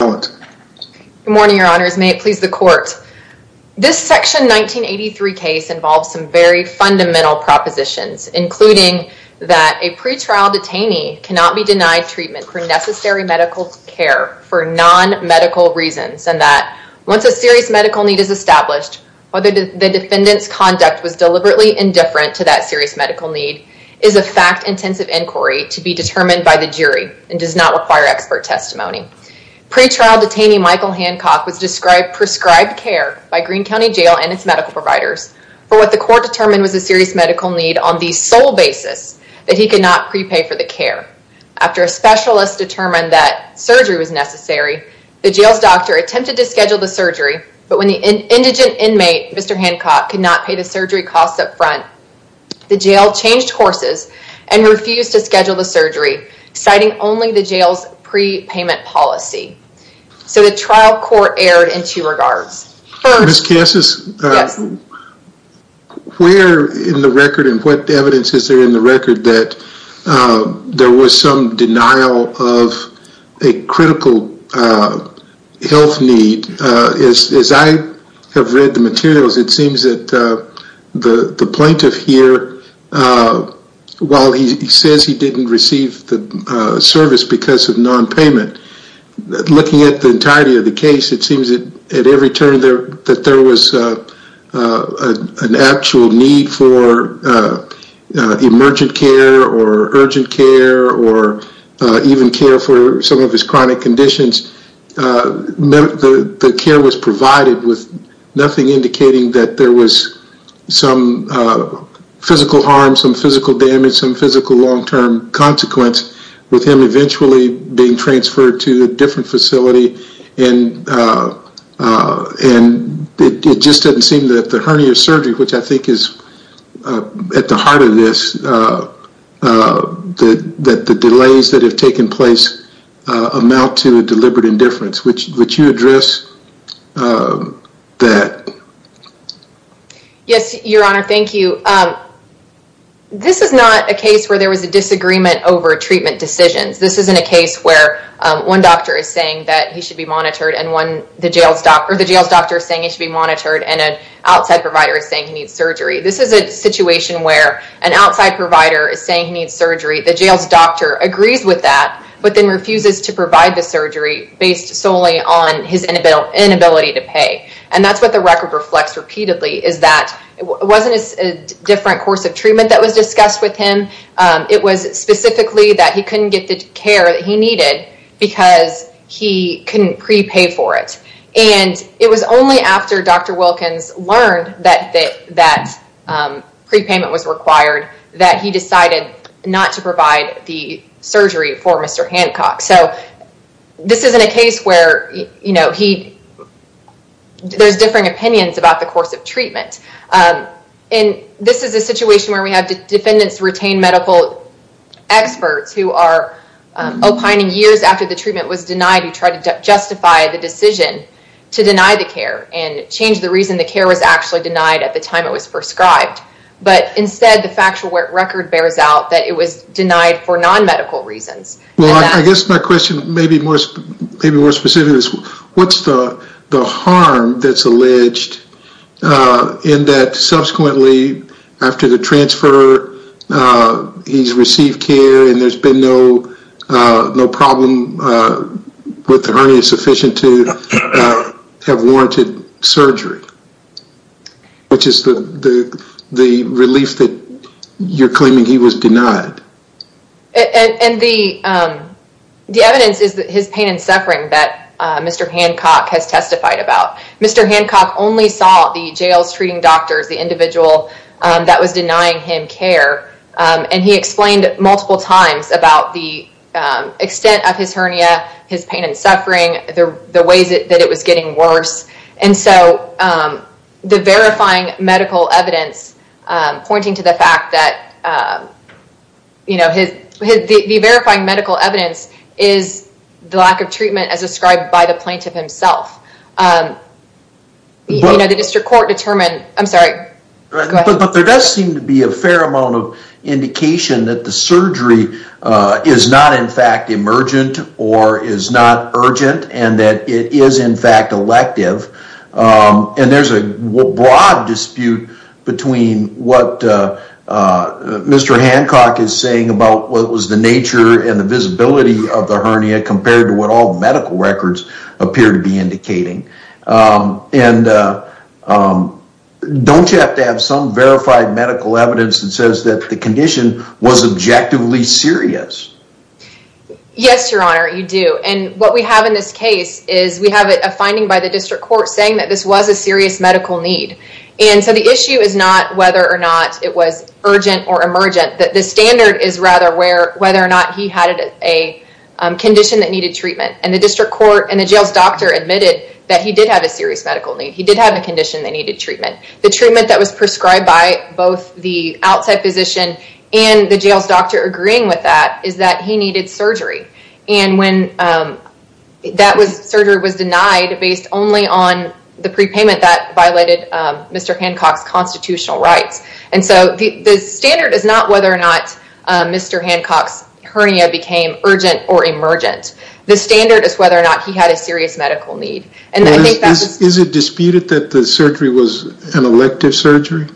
Good morning, your honors. May it please the court This section 1983 case involves some very fundamental Propositions including that a pretrial detainee cannot be denied treatment for necessary medical care for non Medical reasons and that once a serious medical need is established Whether the defendants conduct was deliberately indifferent to that serious medical need is a fact Intensive inquiry to be determined by the jury and does not require expert testimony Pretrial detainee Michael Hancock was described prescribed care by Greene County Jail and its medical providers For what the court determined was a serious medical need on the sole basis that he could not prepay for the care After a specialist determined that surgery was necessary the jail's doctor attempted to schedule the surgery But when the indigent inmate, Mr. Hancock could not pay the surgery costs up front The jail changed courses and refused to schedule the surgery citing only the jail's prepayment policy So the trial court erred in two regards Ms. Casas Where in the record and what evidence is there in the record that There was some denial of a critical health need is as I have read the materials it seems that The the plaintiff here While he says he didn't receive the service because of non-payment Looking at the entirety of the case. It seems that at every turn there that there was an actual need for Emergent care or urgent care or even care for some of his chronic conditions The the care was provided with nothing indicating that there was some physical harm some physical damage some physical long-term consequence with him eventually being transferred to a different facility and And it just doesn't seem that the hernia surgery which I think is at the heart of this The that the delays that have taken place amount to a deliberate indifference, which which you address That Yes, your honor, thank you This is not a case where there was a disagreement over treatment decisions This isn't a case where one doctor is saying that he should be monitored and one the jail stop or the jail's doctor is saying it should be monitored and Outside provider is saying he needs surgery This is a situation where an outside provider is saying he needs surgery the jail's doctor agrees with that But then refuses to provide the surgery based solely on his inability to pay and that's what the record reflects Repeatedly is that it wasn't a different course of treatment that was discussed with him It was specifically that he couldn't get the care that he needed because he couldn't prepay for it And it was only after dr. Wilkins learned that that that Prepayment was required that he decided not to provide the surgery for mr. Hancock. So This isn't a case where you know, he There's differing opinions about the course of treatment And this is a situation where we have defendants retain medical experts who are Opining years after the treatment was denied He tried to justify the decision to deny the care and change the reason the care was actually denied at the time It was prescribed but instead the factual record bears out that it was denied for non-medical reasons Well, I guess my question maybe was maybe more specific. What's the the harm that's alleged? in that subsequently after the transfer He's received care and there's been no problem with the hernia sufficient to have warranted surgery Which is the the relief that you're claiming he was denied and the The evidence is that his pain and suffering that mr. Hancock has testified about mr. Hancock only saw the jails treating doctors the individual That was denying him care and he explained multiple times about the extent of his hernia his pain and suffering there the ways it that it was getting worse and so the verifying medical evidence pointing to the fact that You know his the verifying medical evidence is the lack of treatment as described by the plaintiff himself You know the district court determined I'm sorry But there does seem to be a fair amount of indication that the surgery Is not in fact emergent or is not urgent and that it is in fact elective And there's a broad dispute between what? Mr. Hancock is saying about what was the nature and the visibility of the hernia compared to what all medical records appear to be indicating and Don't you have to have some verified medical evidence that says that the condition was objectively serious Yes, your honor You do and what we have in this case is we have a finding by the district court saying that this was a serious medical need and so the issue is not whether or not it was urgent or emergent that the standard is rather where whether or not he had a Condition that needed treatment and the district court and the jails doctor admitted that he did have a serious medical need He did have a condition that needed treatment the treatment that was prescribed by both the outside physician and the jails doctor agreeing with that is that he needed surgery and when That was surgery was denied based only on the prepayment that violated. Mr. Hancock's constitutional rights and so the the standard is not whether or not Mr. Hancock's hernia became urgent or emergent the standard is whether or not he had a serious medical need and Is it disputed that the surgery was an elective surgery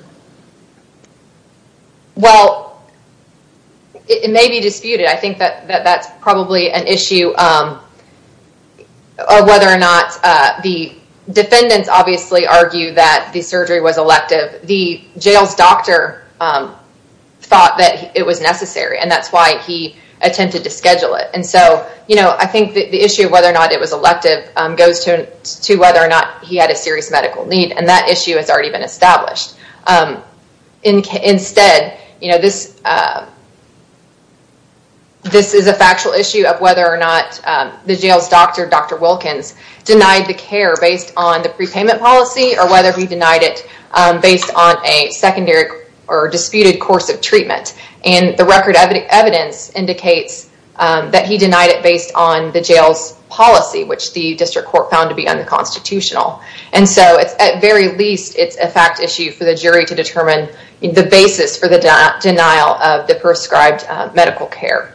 Well It may be disputed I think that that's probably an issue Of whether or not the defendants obviously argue that the surgery was elective the jails doctor Thought that it was necessary and that's why he attempted to schedule it And so, you know I think the issue of whether or not it was elective goes to to whether or not he had a serious medical need and that Issue has already been established In instead, you know this This is a factual issue of whether or not the jails doctor Dr. Wilkins denied the care based on the prepayment policy or whether he denied it Based on a secondary or disputed course of treatment and the record of the evidence indicates That he denied it based on the jails policy, which the district court found to be unconstitutional And so it's at very least it's a fact issue for the jury to determine in the basis for the denial of the prescribed medical care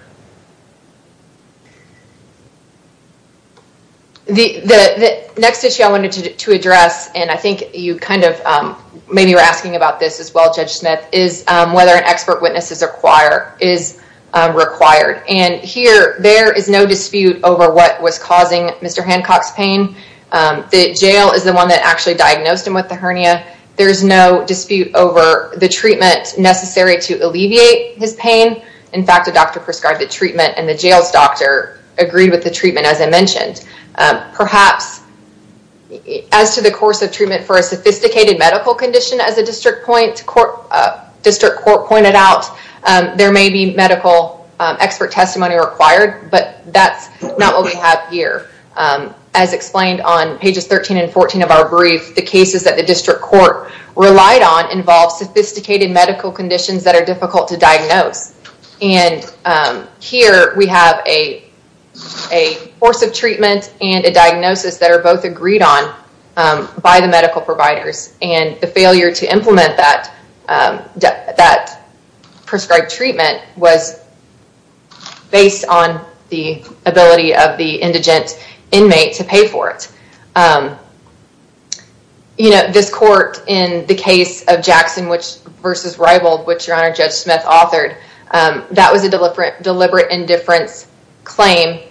The Next issue I wanted to address and I think you kind of maybe you're asking about this as well Judge Smith is whether an expert witness is require is Required and here there is no dispute over what was causing. Mr. Hancock's pain The jail is the one that actually diagnosed him with the hernia There's no dispute over the treatment necessary to alleviate his pain In fact, the doctor prescribed the treatment and the jails doctor agreed with the treatment as I mentioned perhaps As to the course of treatment for a sophisticated medical condition as a district point court district court pointed out There may be medical expert testimony required, but that's not what we have here As explained on pages 13 and 14 of our brief the cases that the district court relied on involve sophisticated medical conditions that are difficult to diagnose and here we have a course of treatment and a diagnosis that are both agreed on By the medical providers and the failure to implement that that prescribed treatment was Based on the ability of the indigent inmate to pay for it You know this court in the case of Jackson which versus rivaled which your honor judge Smith authored That was a deliberate deliberate indifference claim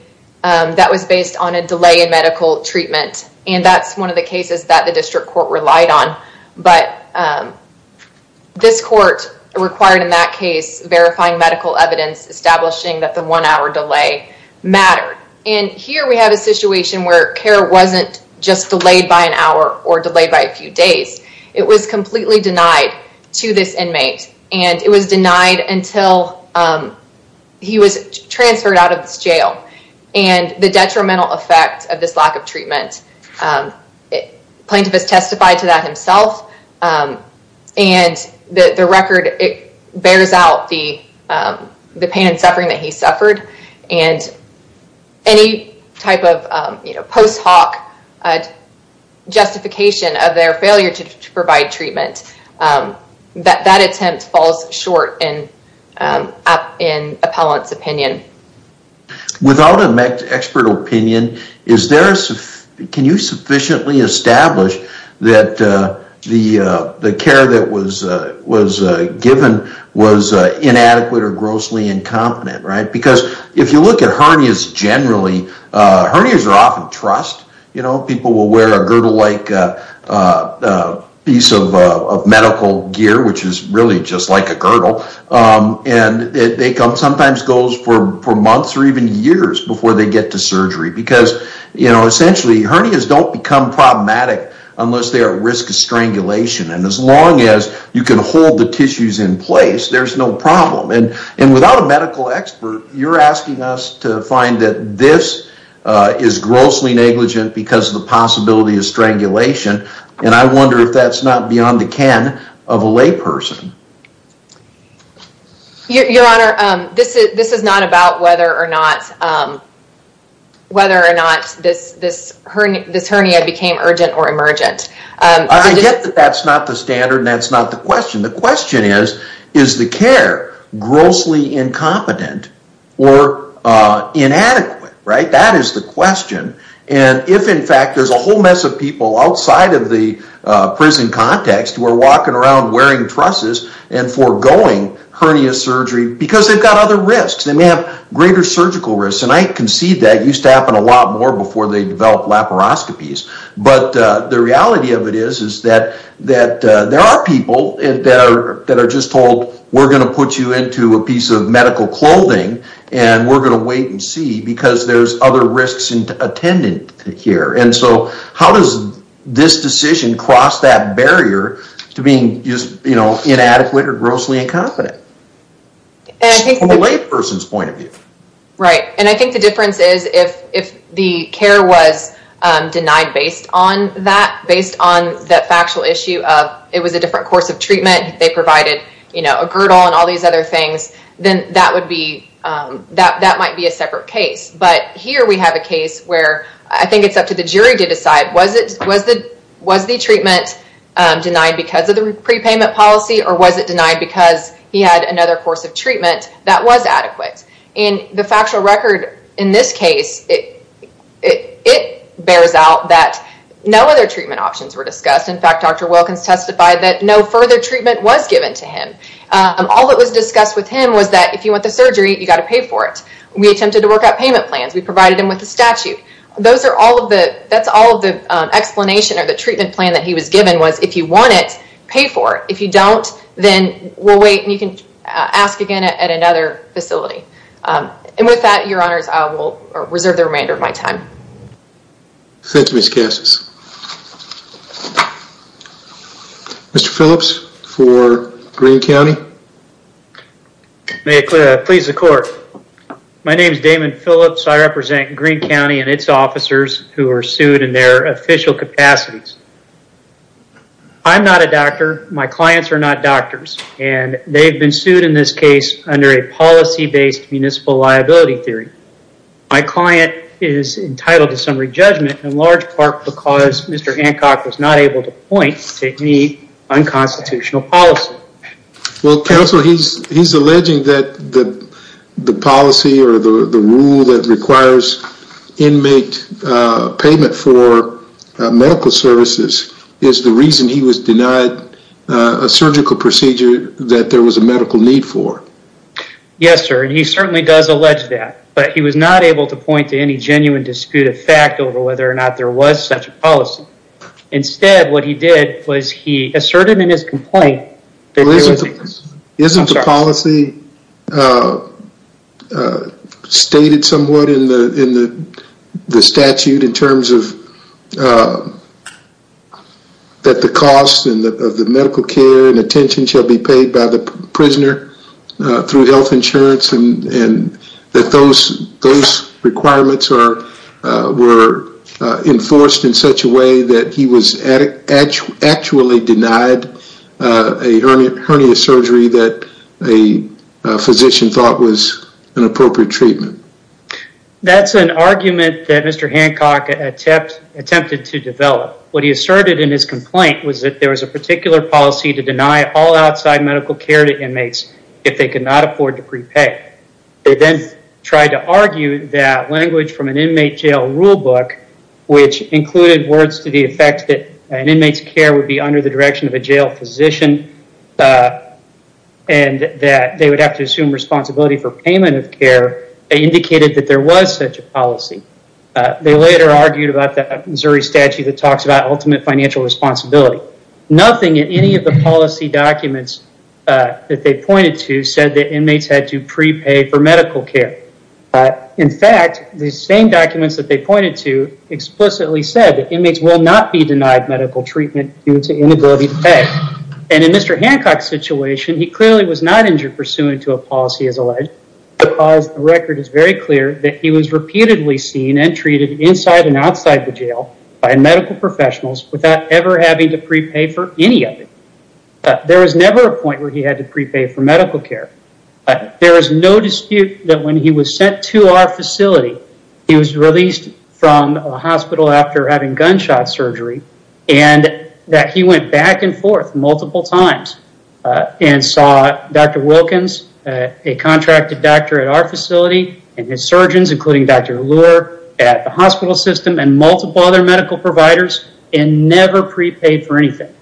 that was based on a delay in medical treatment and that's one of the cases that the district court relied on but This court required in that case verifying medical evidence establishing that the one-hour delay Mattered and here we have a situation where care wasn't just delayed by an hour or delayed by a few days It was completely denied to this inmate and it was denied until He was transferred out of this jail and the detrimental effect of this lack of treatment Plaintiff has testified to that himself and the the record it bears out the the pain and suffering that he suffered and any type of you know post hoc a Justification of their failure to provide treatment That that attempt falls short and up in appellant's opinion Without an expert opinion. Is there can you sufficiently establish that? The the care that was was given was Inadequate or grossly incompetent right because if you look at hernias generally Hernias are often trust. You know people will wear a girdle like Piece of Medical gear which is really just like a girdle and they come sometimes goes for four months or even years before they get to surgery because you know essentially hernias don't Become problematic unless they are at risk of strangulation and as long as you can hold the tissues in place There's no problem and and without a medical expert. You're asking us to find that this Is grossly negligent because of the possibility of strangulation and I wonder if that's not beyond the can of a layperson Your honor this is this is not about whether or not Whether or not this this hernia this hernia became urgent or emergent I get that that's not the standard and that's not the question the question is is the care grossly incompetent or Inadequate right that is the question and if in fact there's a whole mess of people outside of the Prison context we're walking around wearing trusses and foregoing Hernia surgery because they've got other risks They may have greater surgical risks, and I concede that used to happen a lot more before they develop laparoscopies But the reality of it is is that that there are people in there that are just told We're going to put you into a piece of medical clothing And we're going to wait and see because there's other risks and attendant here And so how does this decision cross that barrier to being just you know inadequate or grossly incompetent? As a layperson's point of view right and I think the difference is if if the care was Denied based on that based on that factual issue of it was a different course of treatment They provided you know a girdle and all these other things then that would be That that might be a separate case, but here We have a case where I think it's up to the jury to decide was it was the was the treatment Denied because of the prepayment policy or was it denied because he had another course of treatment that was adequate in The factual record in this case it It bears out that no other treatment options were discussed in fact dr. Wilkins testified that no further treatment was given to him And all that was discussed with him was that if you want the surgery you got to pay for it We attempted to work out payment plans. We provided him with the statute those are all of the that's all of the Explanation or the treatment plan that he was given was if you want it pay for it if you don't then we'll wait and you Can ask again at another facility? And with that your honors I will reserve the remainder of my time Thank you, Miss Cassis Mr.. Phillips for Greene County May it clear please the court My name is Damon Phillips, I represent Greene County and its officers who are sued in their official capacities I'm not a doctor my clients are not doctors, and they've been sued in this case under a policy based municipal liability theory My client is entitled to summary judgment in large part because mr. Hancock was not able to point to any unconstitutional policy Well counsel he's he's alleging that the the policy or the the rule that requires inmate payment for Medical services is the reason he was denied a surgical procedure that there was a medical need for Yes, sir And he certainly does allege that but he was not able to point to any genuine Disputed fact over whether or not there was such a policy Instead what he did was he asserted in his complaint Isn't a policy Stated somewhat in the in the statute in terms of That the cost and the medical care and attention shall be paid by the prisoner through health insurance and and that those those requirements are were Enforced in such a way that he was actually denied a hernia surgery that a Physician thought was an appropriate treatment That's an argument that mr. Hancock Attempted to develop what he asserted in his complaint was that there was a particular Policy to deny all outside medical care to inmates if they could not afford to prepay They then tried to argue that language from an inmate jail rule book Which included words to the effect that an inmate's care would be under the direction of a jail physician and That they would have to assume responsibility for payment of care Indicated that there was such a policy They later argued about the Missouri statute that talks about ultimate financial responsibility nothing in any of the policy documents That they pointed to said that inmates had to prepay for medical care In fact the same documents that they pointed to Explicitly said that inmates will not be denied medical treatment due to inability to pay and in mr. Hancock's situation He clearly was not injured pursuant to a policy as alleged Because the record is very clear that he was repeatedly seen and treated inside and outside the jail by medical Professionals without ever having to prepay for any of it There was never a point where he had to prepay for medical care There is no dispute that when he was sent to our facility he was released from a hospital after having gunshot surgery and That he went back and forth multiple times And saw dr. Wilkins a contracted doctor at our facility and his surgeons including dr. Allure at the hospital system and multiple other medical providers and never prepaid for anything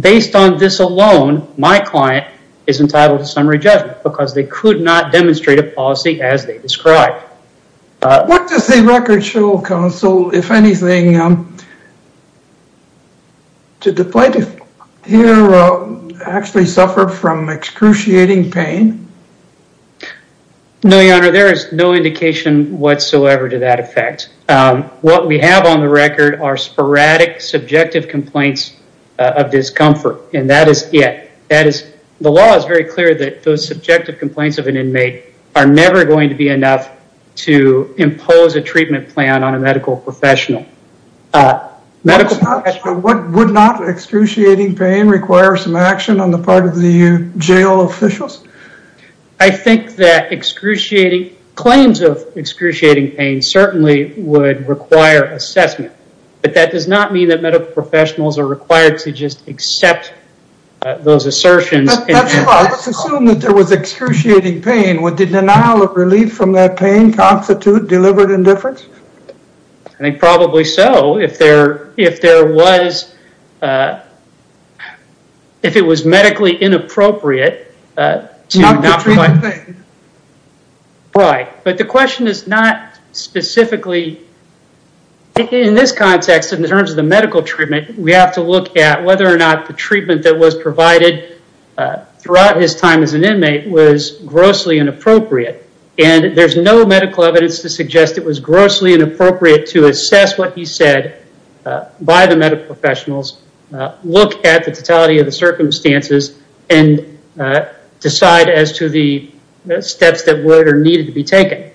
Based on this alone. My client is entitled to summary judgment because they could not demonstrate a policy as they described What does the record show counsel if anything? Did the plaintiff here actually suffer from excruciating pain No, your honor there is no indication whatsoever to that effect What we have on the record are sporadic subjective complaints of Discomfort and that is yet that is the law is very clear that those subjective complaints of an inmate are never going to be enough To impose a treatment plan on a medical professional medical What would not excruciating pain require some action on the part of the jail officials? I think that excruciating claims of excruciating pain certainly Require assessment, but that does not mean that medical professionals are required to just accept those assertions There was excruciating pain with the denial of relief from that pain constitute delivered indifference I think probably so if there if there was If it was medically inappropriate Right, but the question is not Specifically In this context in terms of the medical treatment. We have to look at whether or not the treatment that was provided Throughout his time as an inmate was grossly inappropriate And there's no medical evidence to suggest it was grossly inappropriate to assess what he said by the medical professionals look at the totality of the circumstances and Decide as to the Steps that were there needed to be taken.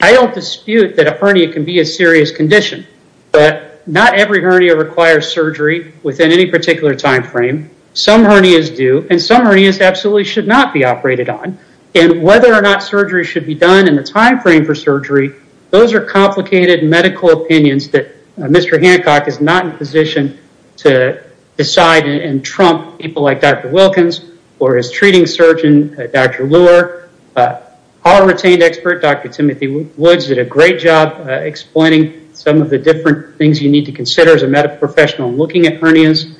I don't dispute that a hernia can be a serious condition But not every hernia requires surgery within any particular time frame Some hernias do and some hernias absolutely should not be operated on and whether or not surgery should be done in the time frame for surgery Those are complicated medical opinions that mr. Hancock is not in position to Decide and trump people like dr. Wilkins or his treating surgeon. Dr. All retained expert. Dr. Timothy Woods did a great job Explaining some of the different things you need to consider as a medical professional looking at hernias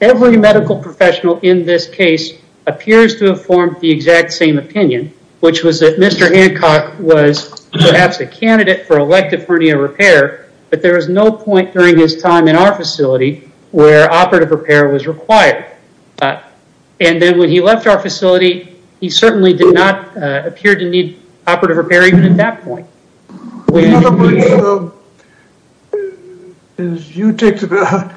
Every medical professional in this case appears to have formed the exact same opinion, which was that mr Hancock was perhaps a candidate for elective hernia repair But there was no point during his time in our facility where operative repair was required And then when he left our facility, he certainly did not appear to need operative repair even at that point Is you take the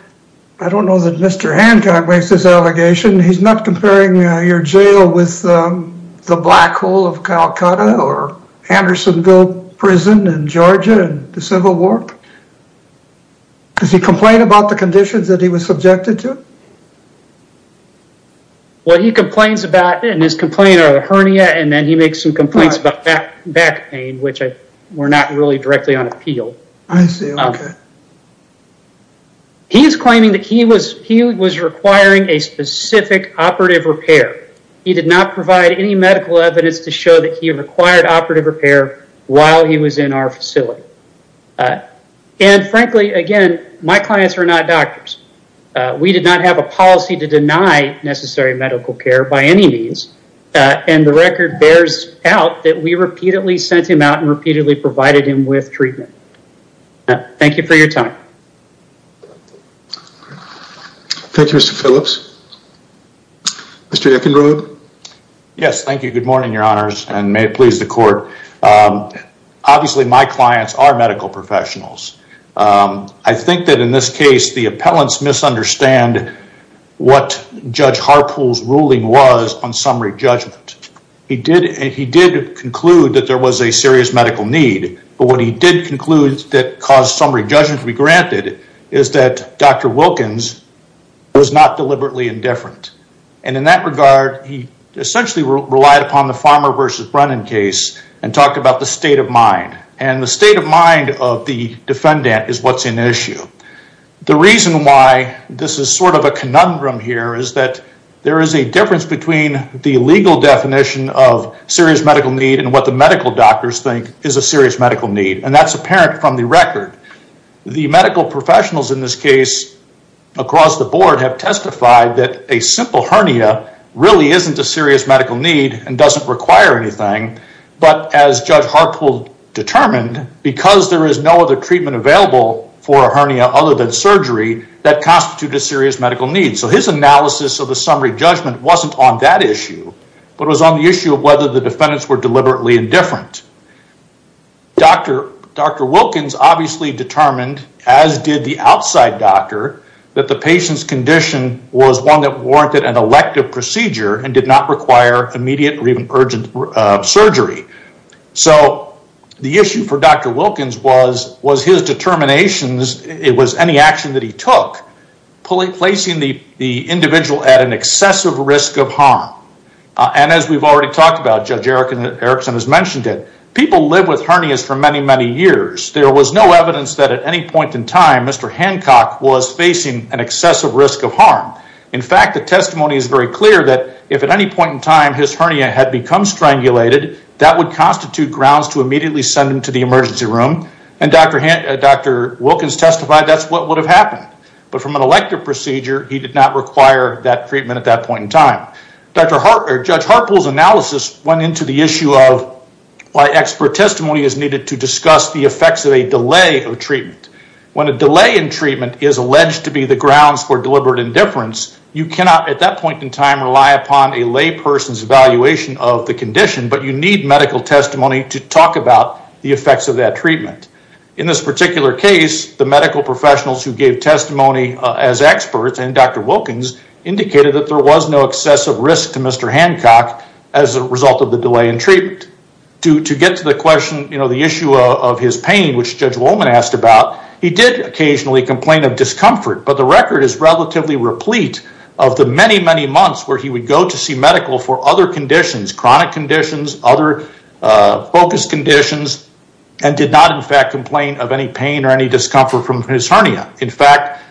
I don't know that mr. Hancock makes this allegation he's not comparing your jail with the black hole of Calcutta or Andersonville prison in Georgia and the Civil War Does he complain about the conditions that he was subjected to? Well, he complains about in his complaint or the hernia and then he makes some complaints about that back pain Which I were not really directly on appeal. I see He is claiming that he was he was requiring a specific operative repair He did not provide any medical evidence to show that he required operative repair while he was in our facility And frankly again, my clients are not doctors We did not have a policy to deny necessary medical care by any means And the record bears out that we repeatedly sent him out and repeatedly provided him with treatment Thank you for your time Thank You, mr. Phillips Mr. Eckenrode Yes. Thank you. Good morning, your honors and may it please the court Obviously my clients are medical professionals I think that in this case the appellants misunderstand What judge Harpool's ruling was on summary judgment? He did and he did conclude that there was a serious medical need But what he did conclude that caused summary judgment to be granted is that dr. Wilkins Was not deliberately indifferent and in that regard he essentially relied upon the farmer versus Brennan case and talked about the state of mind and the state of mind of the Defendant is what's in issue the reason why this is sort of a conundrum here is that there is a difference between the legal definition of Serious medical need and what the medical doctors think is a serious medical need and that's apparent from the record The medical professionals in this case Across the board have testified that a simple hernia really isn't a serious medical need and doesn't require anything But as judge Harpool Determined because there is no other treatment available for a hernia other than surgery that constitutes a serious medical need So his analysis of the summary judgment wasn't on that issue, but was on the issue of whether the defendants were deliberately indifferent Dr. Dr. Wilkins obviously determined as did the outside doctor that the patient's condition Was one that warranted an elective procedure and did not require immediate or even urgent surgery So the issue for Dr. Wilkins was was his determinations It was any action that he took placing the the individual at an excessive risk of harm And as we've already talked about Judge Erickson has mentioned it people live with hernias for many many years There was no evidence that at any point in time. Mr. Hancock was facing an excessive risk of harm In fact the testimony is very clear that if at any point in time his hernia had become Strangulated that would constitute grounds to immediately send him to the emergency room and Dr. Wilkins testified That's what would have happened, but from an elective procedure. He did not require that treatment at that point in time Dr. Harpool's analysis went into the issue of Why expert testimony is needed to discuss the effects of a delay of treatment When a delay in treatment is alleged to be the grounds for deliberate indifference You cannot at that point in time rely upon a lay person's evaluation of the condition But you need medical testimony to talk about the effects of that treatment. In this particular case the medical professionals who gave testimony As experts and Dr. Wilkins indicated that there was no excessive risk to Mr. Hancock as a result of the delay in treatment. To get to the question You know the issue of his pain which Judge Wolman asked about he did occasionally complain of discomfort But the record is relatively replete of the many many months where he would go to see medical for other conditions chronic conditions other Focus conditions and did not in fact complain of any pain or any discomfort from his hernia in fact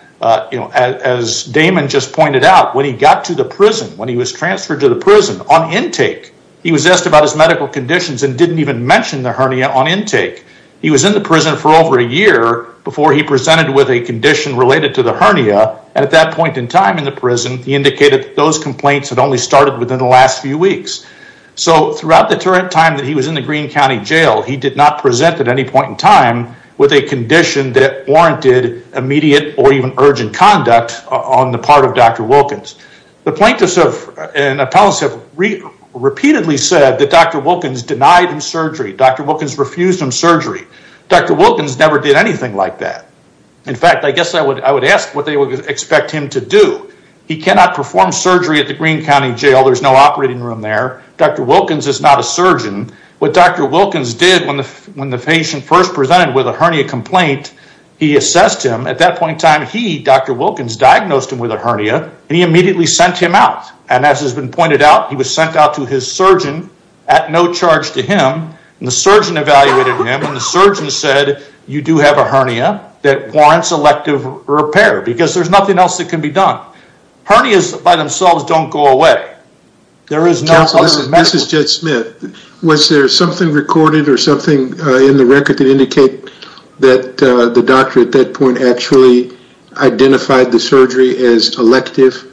You know as Damon just pointed out when he got to the prison when he was transferred to the prison on intake He was asked about his medical conditions and didn't even mention the hernia on intake He was in the prison for over a year Before he presented with a condition related to the hernia and at that point in time in the prison He indicated those complaints had only started within the last few weeks So throughout the time that he was in the Greene County Jail He did not present at any point in time with a condition that warranted immediate or even urgent conduct on the part of Dr. Wilkins. Dr. Wilkins repeatedly said that Dr. Wilkins denied him surgery. Dr. Wilkins refused him surgery. Dr. Wilkins never did anything like that In fact, I guess I would I would ask what they would expect him to do. He cannot perform surgery at the Greene County Jail There's no operating room there. Dr. Wilkins is not a surgeon. What Dr. Wilkins did when the when the patient first presented with a hernia complaint he assessed him at that point in time he Dr. Wilkins diagnosed him with a hernia and he immediately sent him out and as has been pointed out He was sent out to his surgeon at no charge to him and the surgeon evaluated him and the surgeon said you do have a hernia That warrants elective repair because there's nothing else that can be done Hernias by themselves don't go away There is no such medicine. This is Jed Smith Was there something recorded or something in the record that indicate that the doctor at that point actually identified the surgery as elective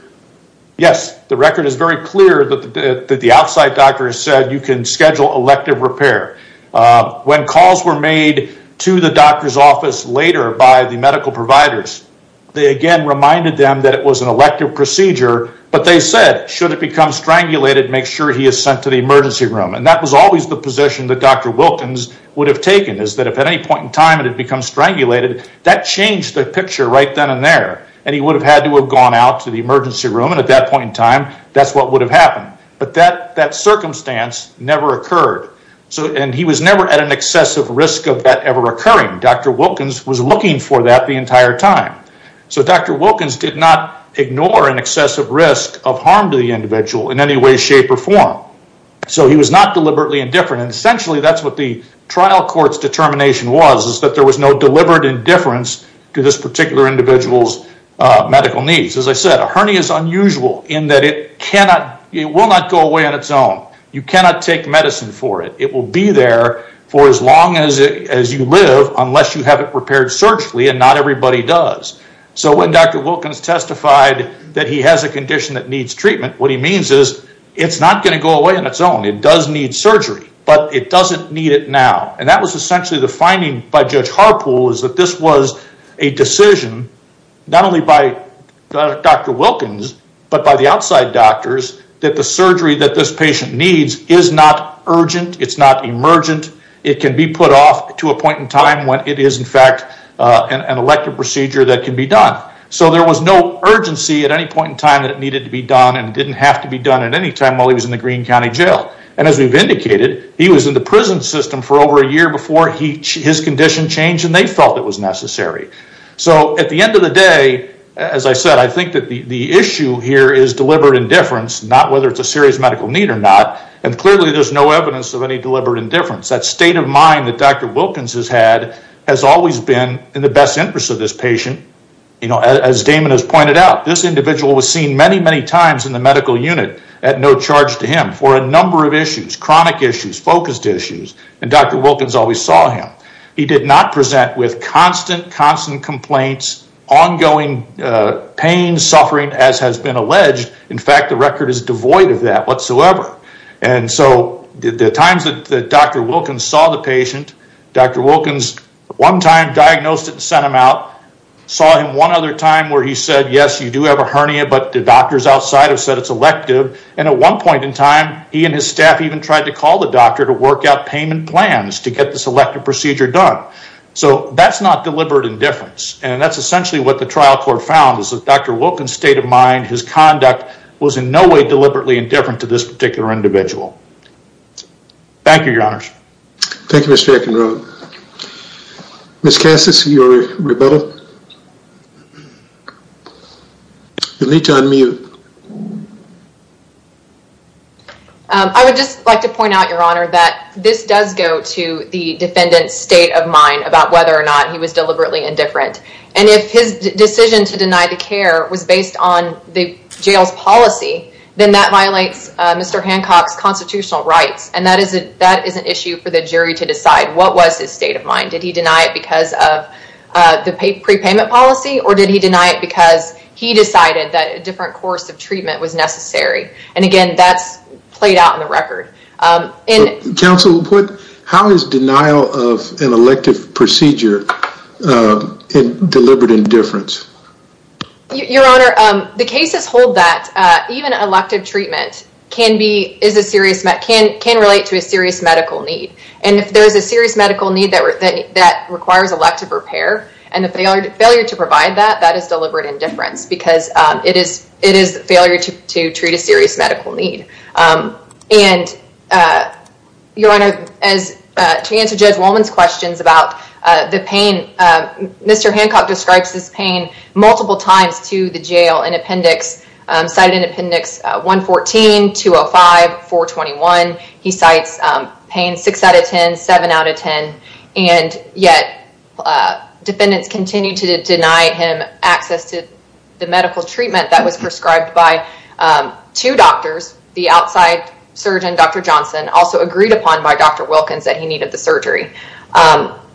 Yes, the record is very clear that the outside doctor said you can schedule elective repair When calls were made to the doctor's office later by the medical providers They again reminded them that it was an elective procedure But they said should it become strangulated make sure he is sent to the emergency room and that was always the position that Dr. Wilkins would have taken is that if at any point in time it had become Strangulated that changed the picture right then and there and he would have had to have gone out to the emergency room and at that Point in time, that's what would have happened. But that that circumstance never occurred So and he was never at an excessive risk of that ever occurring. Dr. Wilkins was looking for that the entire time So Dr. Wilkins did not ignore an excessive risk of harm to the individual in any way shape or form So he was not deliberately indifferent and essentially that's what the trial courts determination was is that there was no deliberate indifference to this particular individual's Medical needs as I said a hernia is unusual in that it cannot it will not go away on its own You cannot take medicine for it It will be there for as long as it as you live unless you have it repaired surgically and not everybody does So when Dr. Wilkins testified that he has a condition that needs treatment What he means is it's not going to go away on its own It does need surgery, but it doesn't need it now and that was essentially the finding by Judge Harpool is that this was a decision not only by Dr. Wilkins, but by the outside doctors that the surgery that this patient needs is not urgent It's not emergent. It can be put off to a point in time when it is in fact An elective procedure that can be done So there was no urgency at any point in time that it needed to be done and didn't have to be done at any time While he was in the Greene County Jail and as we've indicated He was in the prison system for over a year before he his condition changed and they felt it was necessary So at the end of the day as I said I think that the the issue here is deliberate indifference Not whether it's a serious medical need or not and clearly there's no evidence of any deliberate indifference that state of mind that Dr. Wilkins has had has always been in the best interest of this patient You know as Damon has pointed out this individual was seen many many times in the medical unit at no charge to him for a Number of issues chronic issues focused issues and Dr. Wilkins always saw him He did not present with constant constant complaints ongoing pain suffering as has been alleged in fact the record is devoid of that whatsoever and So the times that Dr. Wilkins saw the patient Dr. Wilkins one time diagnosed it and sent him out Saw him one other time where he said yes, you do have a hernia But the doctors outside have said it's elective and at one point in time He and his staff even tried to call the doctor to work out payment plans to get this elective procedure done So that's not deliberate indifference, and that's essentially what the trial court found is that Dr. Wilkins state of mind his conduct was in no way deliberately indifferent to this particular individual Thank you, your honors. Thank you, Mr. Ekinrode Ms. Cassis, you're rebuttal. You'll need to unmute. I would just like to point out your honor that this does go to the defendant's state of mind about whether or not he was Deliberately indifferent, and if his decision to deny the care was based on the jail's policy then that violates Mr. Hancock's constitutional rights, and that is a that is an issue for the jury to decide What was his state of mind did he deny it because of? The prepayment policy or did he deny it because he decided that a different course of treatment was necessary and again That's played out in the record Counsel, how is denial of an elective procedure Deliberate indifference Your honor the cases hold that Even elective treatment can be is a serious can can relate to a serious medical need and if there is a serious medical need that requires elective repair and the failure to provide that that is deliberate indifference because It is it is failure to treat a serious medical need and Your honor as to answer Judge Wolman's questions about the pain Mr.. Hancock describes this pain multiple times to the jail in appendix cited in appendix 114 205 421 he cites pain 6 out of 10 7 out of 10 and yet Defendants continue to deny him access to the medical treatment that was prescribed by Two doctors the outside surgeon dr. Johnson also agreed upon by dr. Wilkins that he needed the surgery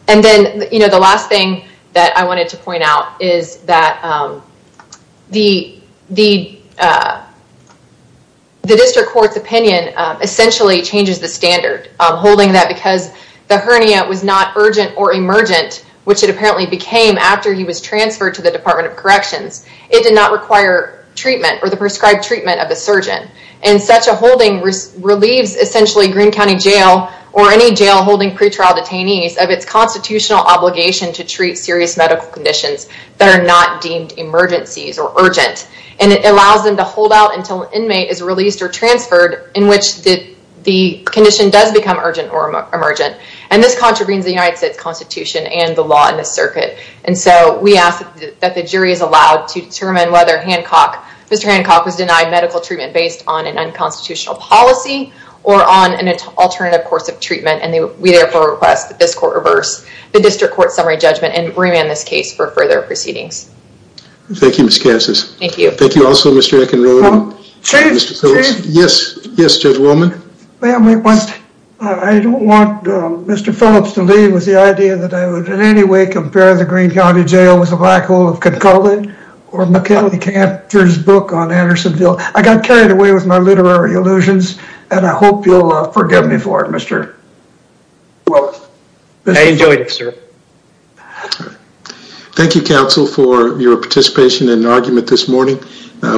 And then you know the last thing that I wanted to point out is that The the The district courts opinion Essentially changes the standard holding that because the hernia was not urgent or emergent Which it apparently became after he was transferred to the Department of Corrections It did not require treatment or the prescribed treatment of the surgeon and such a holding Relieves essentially Greene County Jail or any jail holding pretrial detainees of its constitutional obligation to treat serious medical conditions that are not deemed emergencies or urgent and it allows them to hold out until an inmate is released or transferred in which did the Condition does become urgent or emergent and this contravenes the United States Constitution and the law in the circuit And so we ask that the jury is allowed to determine whether Hancock. Mr. Constitutional policy or on an alternative course of treatment and we therefore request that this court reverse the district court summary judgment and Remand this case for further proceedings Thank you, mr. Casas. Thank you. Thank you. Also, mr. Ekin roll Yes. Yes, judge woman. I Don't want Mr. Phillips to leave with the idea that I would in any way compare the Greene County Jail with a black hole of could call it Cantor's book on Andersonville. I got carried away with my literary illusions, and I hope you'll forgive me for it. Mr. Well, I enjoyed it, sir Thank You counsel for your participation in an argument this morning,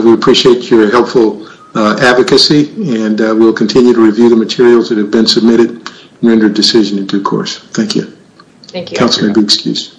we appreciate your helpful Advocacy and we'll continue to review the materials that have been submitted Rendered decision in due course. Thank you. Thank you. That's a good excuse